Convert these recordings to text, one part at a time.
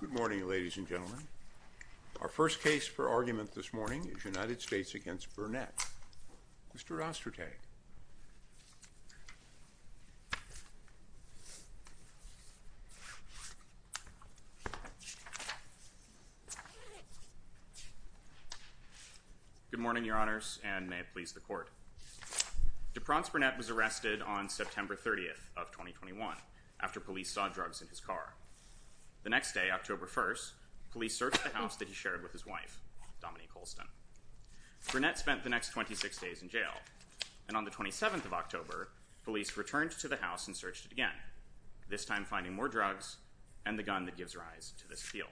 Good morning, ladies and gentlemen. Our first case for argument this morning is United States v. Burnett. Mr. Ostertag. Good morning, your honors, and may it please the court. Depronce Burnett was arrested on September 30th of 2021 after police saw drugs in his car. The next day, October 1st, police searched the house that he shared with his wife, Dominique Holston. Burnett spent the next 26 days in jail, and on the 27th of October, police returned to the house and searched it again, this time finding more drugs and the gun that gives rise to this feel.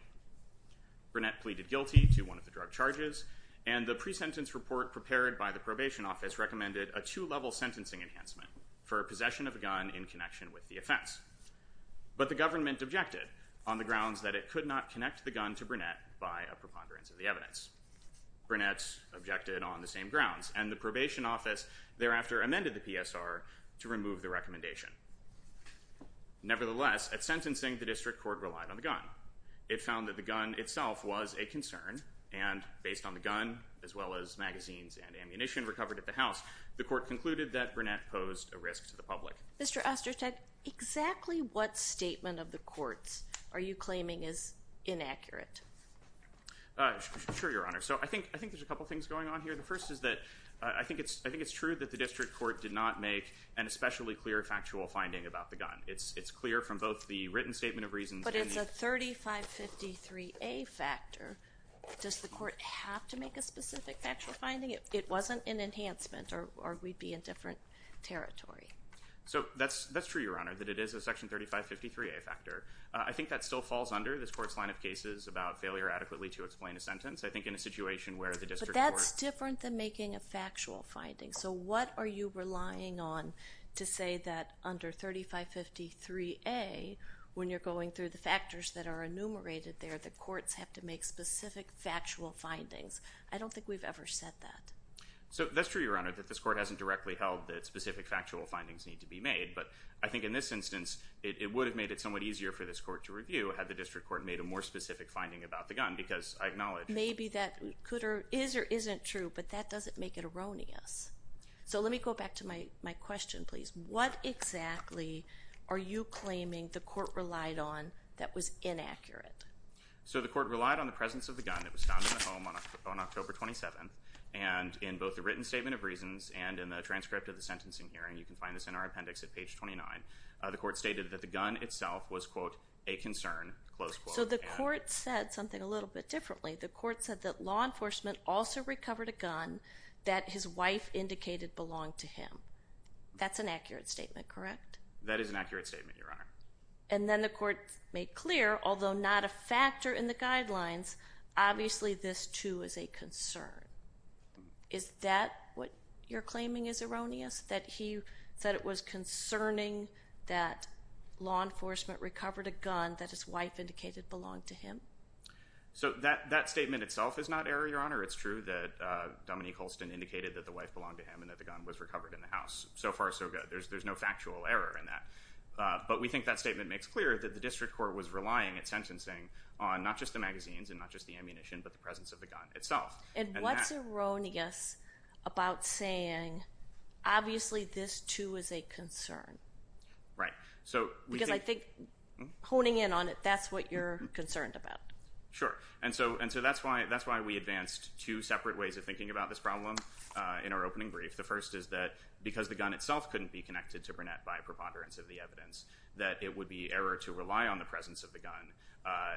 Burnett pleaded guilty to one of the drug charges, and the pre-sentence report prepared by the probation office recommended a two-level sentencing enhancement for a possession of a gun in connection with the offense. But the government objected on the grounds that it could not connect the gun to Burnett by a preponderance of the evidence. Burnett objected on the same grounds, and the probation office thereafter amended the PSR to remove the recommendation. Nevertheless, at sentencing, the district court relied on the gun. It found that the gun itself was a concern, and based on the gun, as well as magazines and ammunition recovered at the house, the court concluded that Burnett posed a risk to the public. Mr. Sure, Your Honor. So I think there's a couple things going on here. The first is that I think it's true that the district court did not make an especially clear factual finding about the gun. It's clear from both the written statement of reasons... But it's a 3553A factor. Does the court have to make a specific factual finding? It wasn't an enhancement, or we'd be in different territory. So that's true, Your Honor, that it is a section 3553A factor. I think that still falls under this court's line of cases about failure adequately to explain a sentence. I think in a situation where the district court... But that's different than making a factual finding. So what are you relying on to say that under 3553A, when you're going through the factors that are enumerated there, the courts have to make specific factual findings? I don't think we've ever said that. So that's true, Your Honor, that this court hasn't directly held that specific factual findings need to be made, but I think in this instance it would have made it somewhat easier for this court to review had the district court made a more specific finding about the gun, because I acknowledge... Maybe that could or is or isn't true, but that doesn't make it erroneous. So let me go back to my question, please. What exactly are you claiming the court relied on that was inaccurate? So the court relied on the presence of the gun that was found in the home on October 27th, and in both the written statement of reasons and in the transcript of the sentencing hearing, you can find this in our appendix at page 29, the court stated that the gun itself was, quote, a concern, close quote. So the court said something a little bit differently. The court said that law enforcement also recovered a gun that his wife indicated belonged to him. That's an accurate statement, correct? That is an accurate statement, Your Honor. And then the court made clear, although not a factor in the guidelines, obviously this too is a concern. Is that what you're claiming is erroneous? That he said it was concerning that law enforcement recovered a gun that his wife indicated belonged to him? So that statement itself is not error, Your Honor. It's true that Dominique Holston indicated that the wife belonged to him and that the gun was recovered in the house. So far, so good. There's no factual error in that, but we think that statement makes clear that the district court was relying at sentencing on not just the magazines and not just the ammunition, but the presence of the gun itself. And what's erroneous about saying obviously this too is a concern. Right. Because I think honing in on it, that's what you're concerned about. Sure. And so that's why we advanced two separate ways of thinking about this problem in our opening brief. The first is that because the gun itself couldn't be connected to Burnett by preponderance of the evidence, that it would be error to rely on the presence of the gun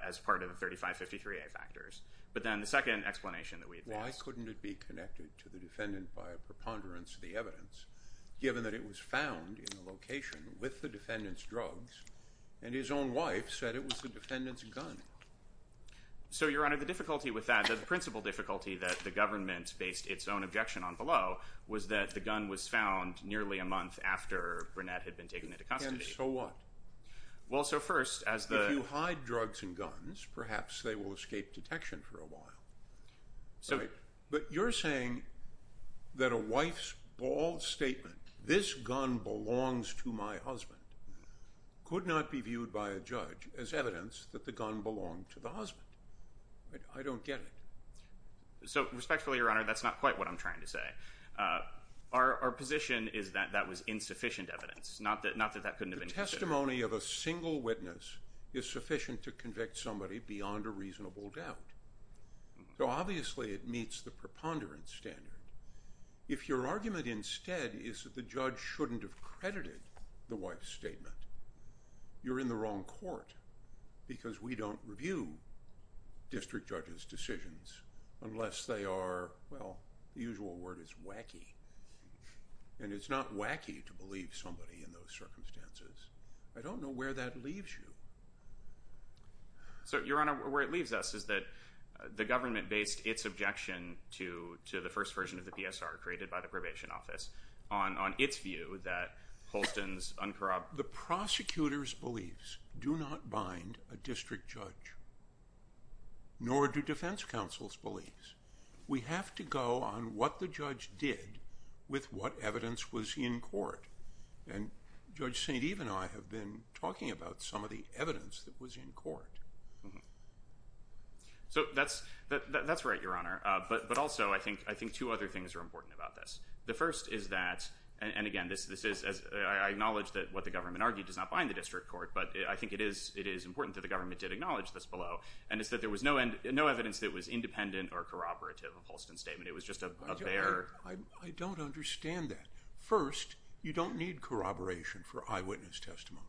as part of the 3553A factors. But then the second explanation that we couldn't it be connected to the defendant by a preponderance of the evidence, given that it was found in a location with the defendant's drugs and his own wife said it was the defendant's gun. So, Your Honor, the difficulty with that, the principal difficulty that the government based its own objection on below, was that the gun was found nearly a month after Burnett had been taken into custody. And so what? Well, so first, as the... If you hide drugs and guns, perhaps they will escape detection for a while. So... But you're saying that a wife's bald statement, this gun belongs to my husband, could not be viewed by a judge as evidence that the gun belonged to the husband. I don't get it. So, respectfully, Your Honor, that's not quite what I'm trying to say. Our position is that that was insufficient evidence. Not that that couldn't have been... The testimony of a reasonable doubt. So, obviously, it meets the preponderance standard. If your argument instead is that the judge shouldn't have credited the wife's statement, you're in the wrong court. Because we don't review district judges' decisions unless they are, well, the usual word is wacky. And it's not wacky to believe somebody in those circumstances. I don't know where that leaves you. So, Your Honor, where it leaves us is that the government based its objection to the first version of the PSR, created by the probation office, on its view that Holston's uncorrupt... The prosecutors' beliefs do not bind a district judge. Nor do defense counsel's beliefs. We have to go on what the judge did with what evidence was in court. And Judge St. Eve and I have been talking about some of the evidence that was in court. So, that's right, Your Honor. But also, I think two other things are important about this. The first is that, and again, I acknowledge that what the government argued does not bind the district court. But I think it is important that the government did acknowledge this below. And it's that there was no evidence that was independent or corroborative of Holston's statement. It was just a bare... I don't understand that. First, you don't need corroboration for eyewitness testimony.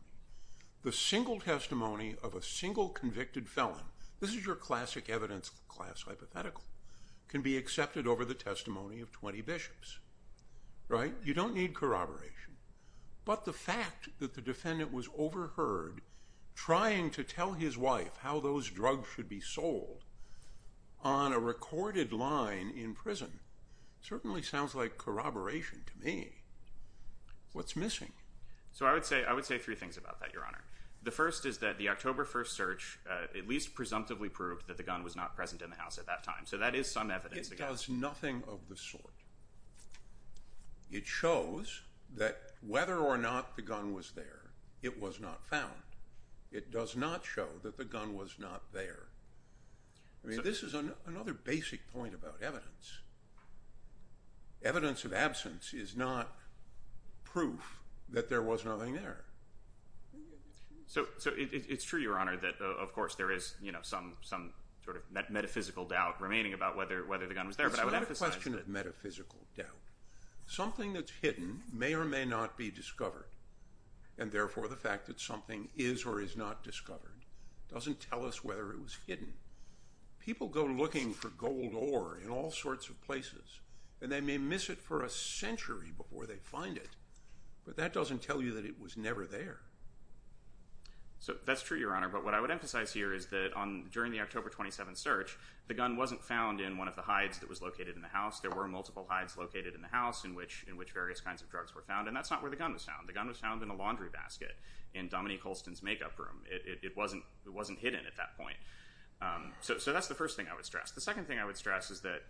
The single testimony of a single convicted felon, this is your classic evidence class hypothetical, can be accepted over the testimony of 20 bishops. Right? You don't need corroboration. But the fact that the defendant was overheard trying to tell his wife how those drugs should be sold on a recorded line in prison certainly sounds like corroboration to me. What's about that, Your Honor? The first is that the October 1st search at least presumptively proved that the gun was not present in the house at that time. So, that is some evidence. It does nothing of the sort. It shows that whether or not the gun was there, it was not found. It does not show that the gun was not there. I mean, this is another basic point about evidence. Evidence of absence is not proof that there was nothing there. So, it's true, Your Honor, that of course there is, you know, some sort of metaphysical doubt remaining about whether the gun was there, but I would emphasize... It's not a question of metaphysical doubt. Something that's hidden may or may not be discovered, and therefore the fact that something is or is not discovered doesn't tell us whether it was hidden. People go looking for gold ore in all sorts of places, and they may miss it for a century before they find it, but that doesn't tell you that it was never there. So, that's true, Your Honor, but what I would emphasize here is that during the October 27th search, the gun wasn't found in one of the hides that was located in the house. There were multiple hides located in the house in which various kinds of drugs were found, and that's not where the gun was found. The gun was found in a laundry basket in Dominique Holston's makeup room. It wasn't hidden at that point. So, that's the first thing I would stress is that,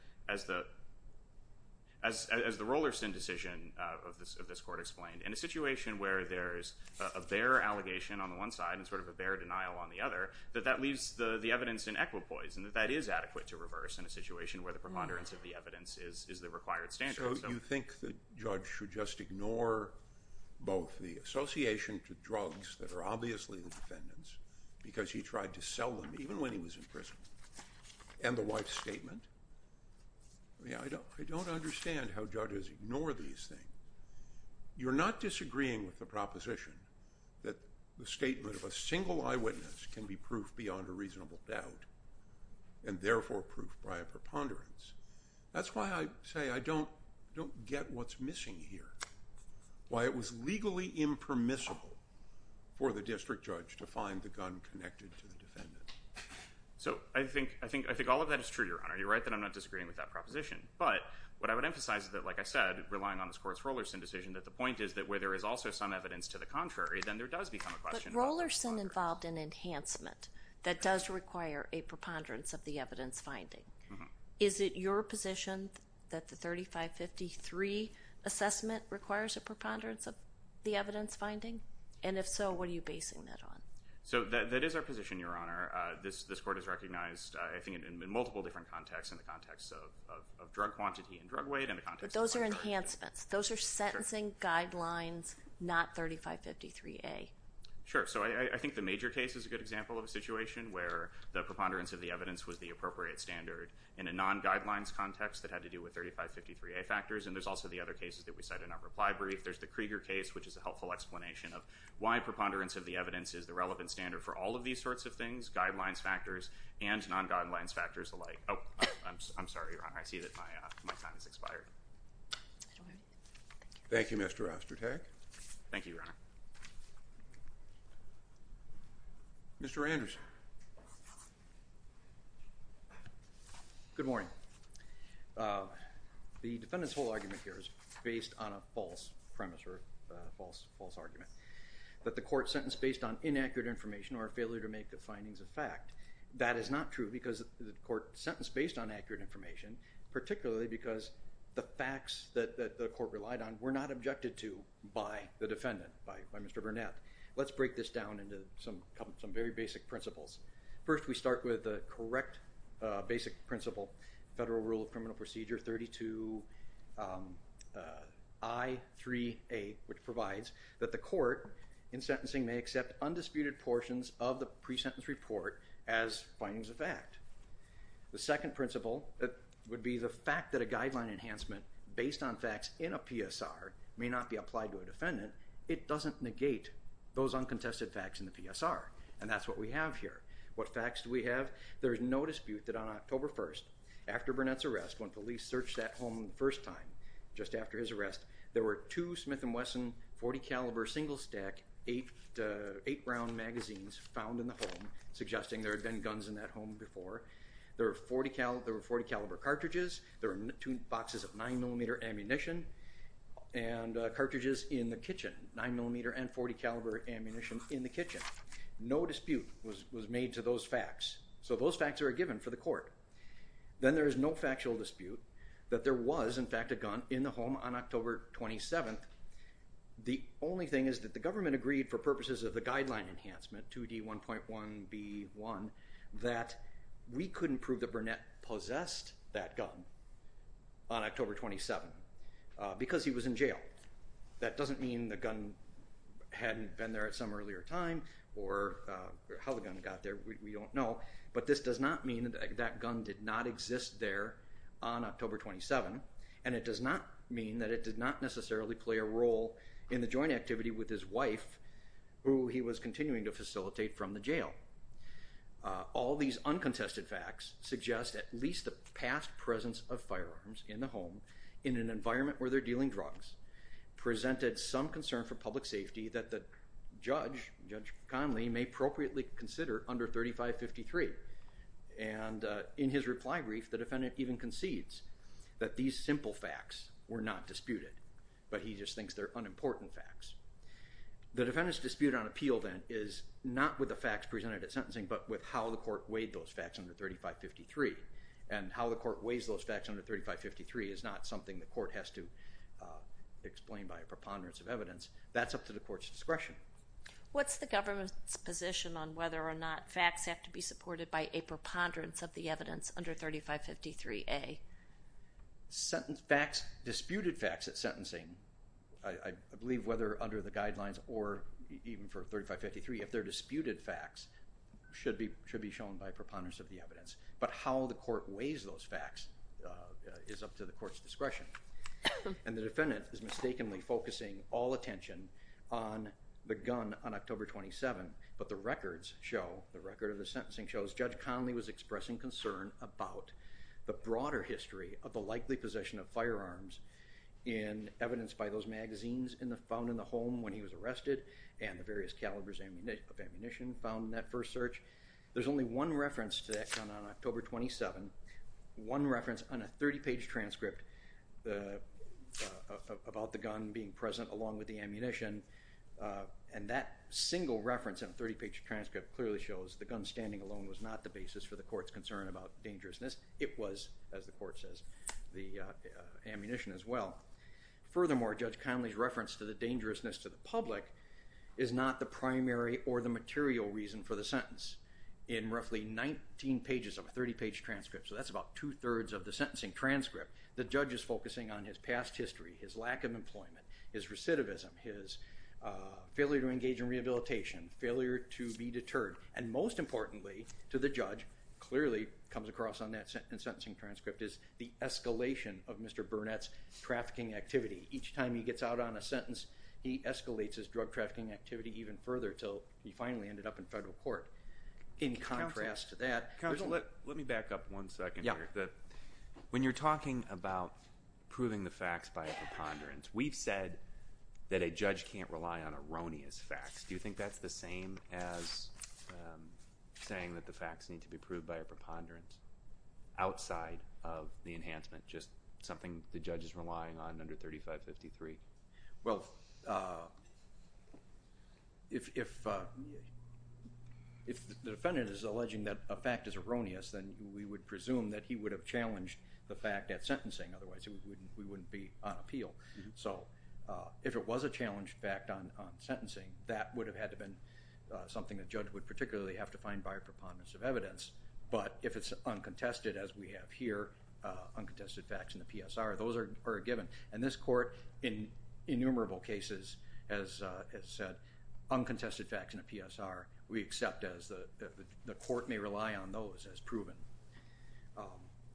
as the Rollerson decision of this court explained, in a situation where there's a bare allegation on the one side and sort of a bare denial on the other, that that leaves the evidence in equipoise, and that that is adequate to reverse in a situation where the preponderance of the evidence is the required standard. So, you think the judge should just ignore both the association to drugs that are obviously the defendant's because he tried to sell them even when he was in prison, and the wife's statement? Yeah, I don't I don't understand how judges ignore these things. You're not disagreeing with the proposition that the statement of a single eyewitness can be proof beyond a reasonable doubt, and therefore proof by a preponderance. That's why I say I don't don't get what's missing here, why it was legally impermissible for the district judge to find the gun connected to the defendant. So, I think all of that is true, Your Honor. You're right that I'm not disagreeing with that proposition, but what I would emphasize is that, like I said, relying on this course Rollerson decision, that the point is that where there is also some evidence to the contrary, then there does become a question. But Rollerson involved an enhancement that does require a preponderance of the evidence finding. Is it your position that the 3553 assessment requires a preponderance of the evidence finding? And if so, what are you basing that on? So, that is our position, Your Honor. This court has recognized, I think in multiple different contexts, in the context of drug quantity and drug weight. But those are enhancements, those are sentencing guidelines, not 3553A. Sure, so I think the major case is a good example of a situation where the preponderance of the evidence was the appropriate standard in a non-guidelines context that had to do with 3553A factors. And there's also the other cases that we said in our reply brief. There's the Krieger case, which is a helpful explanation of why preponderance of the evidence is the relevant standard for all of these sorts of things, guidelines factors and non-guidelines factors alike. Oh, I'm sorry, Your Honor. I see that my time has expired. Thank you, Mr. Ostertag. Thank you, Your Honor. Mr. Anderson. Good morning. The defendant's whole argument here is based on a false premise or a false argument. That the court sentenced based on inaccurate information or a failure to make the findings of fact, that is not true because the court sentenced based on accurate information, particularly because the facts that the court relied on were not objected to by the defendant, by Mr. Burnett. Let's break this down into some very basic principles. First, we start with the correct basic principle, Federal Rule of Criminal Procedure 32I3A, which provides that the court in sentencing may accept undisputed portions of the pre-sentence report as findings of fact. The second principle would be the fact that a guideline enhancement based on facts in a PSR may not be applied to a defendant. It doesn't negate those uncontested facts in the PSR and that's what we have here. What facts do we have? There's no dispute that on October 1st, after Burnett's arrest, when police searched that home the first time, just after his arrest, there were two Smith & Wesson .40 caliber single-stack eight-round magazines found in the home suggesting there had been guns in that home before. There were .40 caliber cartridges, there were two boxes of 9mm ammunition and cartridges in the kitchen, 9mm and .40 caliber ammunition in the kitchen. No dispute was made to those facts, so those facts are given for the court. Then there is no factual dispute that there was in fact a gun in the home on October 27th. The only thing is that the government agreed for purposes of the guideline enhancement 2D1.1B1 that we couldn't prove that Burnett possessed that gun on October 27 because he was in jail. That doesn't mean the gun hadn't been there at some earlier time or how the gun got there, we don't know, but this does not mean that gun did not exist there on October 27 and it does not mean that it did not necessarily play a role in the joint activity with his wife who he was continuing to facilitate from the jail. All these uncontested facts suggest at least the past presence of firearms in the home in an environment where they're dealing drugs presented some concern for public safety that the judge, Judge Conley, may appropriately consider under 3553 and in his reply brief the defendant even concedes that these simple facts were not disputed, but he just thinks they're unimportant facts. The defendant's dispute on appeal then is not with the facts presented at sentencing but with how the court weighed those facts under 3553 and how the court weighs those facts under 3553 is not something the court has to explain by a preponderance of evidence. That's up to the court's discretion. What's the government's position on whether or not facts have to be supported by a preponderance of the evidence under 3553A? Sentence facts, disputed facts at sentencing, I believe whether under the guidelines or even for 3553 if they're disputed facts should be shown by preponderance of the evidence, but how the court weighs those facts is up to the court's discretion and the defendant is mistakenly focusing all attention on the gun on October 27 but the records show, the record of the sentencing shows, Judge Conley was expressing concern about the broader history of the likely possession of firearms in evidence by those magazines found in the home when he was arrested and the various calibers of ammunition found in that first search. There's only one reference to that gun on October 27, one reference on a 30-page transcript about the gun being present along with the ammunition and that single reference in a 30-page transcript clearly shows the gun standing alone was not the basis for the court's concern about dangerousness. It was, as the court says, the ammunition as well. Furthermore, Judge Conley's reference to the dangerousness to the public is not the primary or the material reason for the sentence. In roughly 19 pages of a 30-page transcript, so that's about two-thirds of the sentencing transcript, the judge is focusing on his past history, his lack of employment, his recidivism, his failure to engage in rehabilitation, failure to be deterred, and most importantly to the judge, clearly comes across on that sentencing transcript, is the escalation of Mr. Burnett's trafficking activity. Each time he gets out on a sentence, he escalates his drug trafficking activity even further till he finally ended up in federal court. In contrast to that, let me back up one second here. When you're talking about proving the facts by a preponderance, we've said that a judge can't rely on erroneous facts. Do you think that's the same as saying that the facts need to be proved by a preponderance outside of the enhancement, just something the judge is relying on under 3553? Well, if the defendant is alleging that a fact is erroneous, then we would presume that he would have challenged the fact at sentencing, otherwise we wouldn't be on appeal. So if it was a challenged fact on sentencing, that would have had to been something that judge would particularly have to find by a preponderance of evidence. But if it's uncontested, as we have here, uncontested facts in the PSR, those are given. And this court, in innumerable cases, has said uncontested facts in a PSR, we accept as the court may rely on those as proven.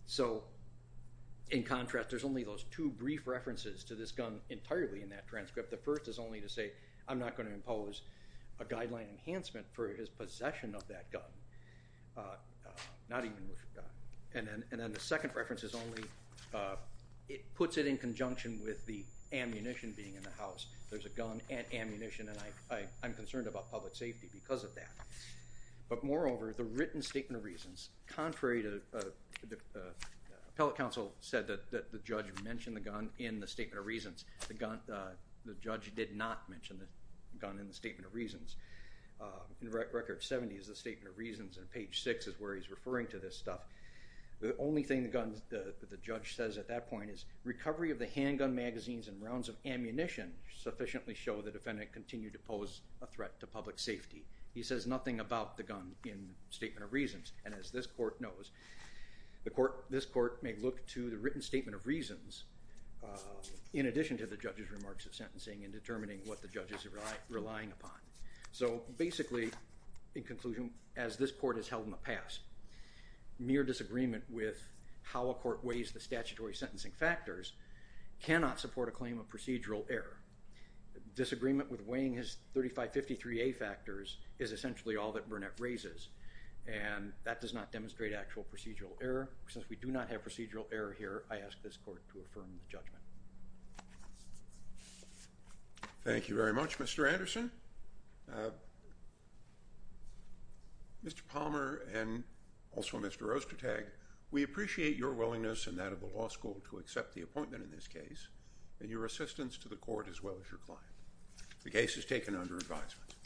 So in contrast, there's only those two brief references to this gun entirely in that transcript. The first is only to say, I'm not going to impose a guideline enhancement for his possession of that gun. And then the second reference is only, it puts it in conjunction with the ammunition being in the house. There's a gun and ammunition and I'm concerned about public safety because of that. But moreover, the written statement of reasons, contrary to the appellate counsel said that the judge mentioned the gun in the statement of reasons, the judge did not mention the gun in the statement of reasons. In record 70 is the statement of reasons and page 6 is where he's referring to this stuff. The only thing the judge says at that point is recovery of the handgun magazines and rounds of ammunition sufficiently show the defendant continued to pose a threat to public safety. He says nothing about the gun in statement of reasons and as this court knows, this court may look to the written statement of reasons in addition to the judge's remarks of sentencing in determining what the judges are relying upon. So basically, in conclusion, as this court has held in the past, mere disagreement with how a court weighs the statutory sentencing factors cannot support a claim of procedural error. Disagreement with weighing his 3553A factors is essentially all that Burnett raises and that does not demonstrate actual procedural error. Since we do not have procedural error here, I ask this court to affirm the judgment. Thank you very much, Mr. Anderson. Mr. Palmer and also Mr. Ostertag, we appreciate your willingness and that of the law school to accept the appointment in this case and your assistance to the court as well as your client. The case is taken under advisement.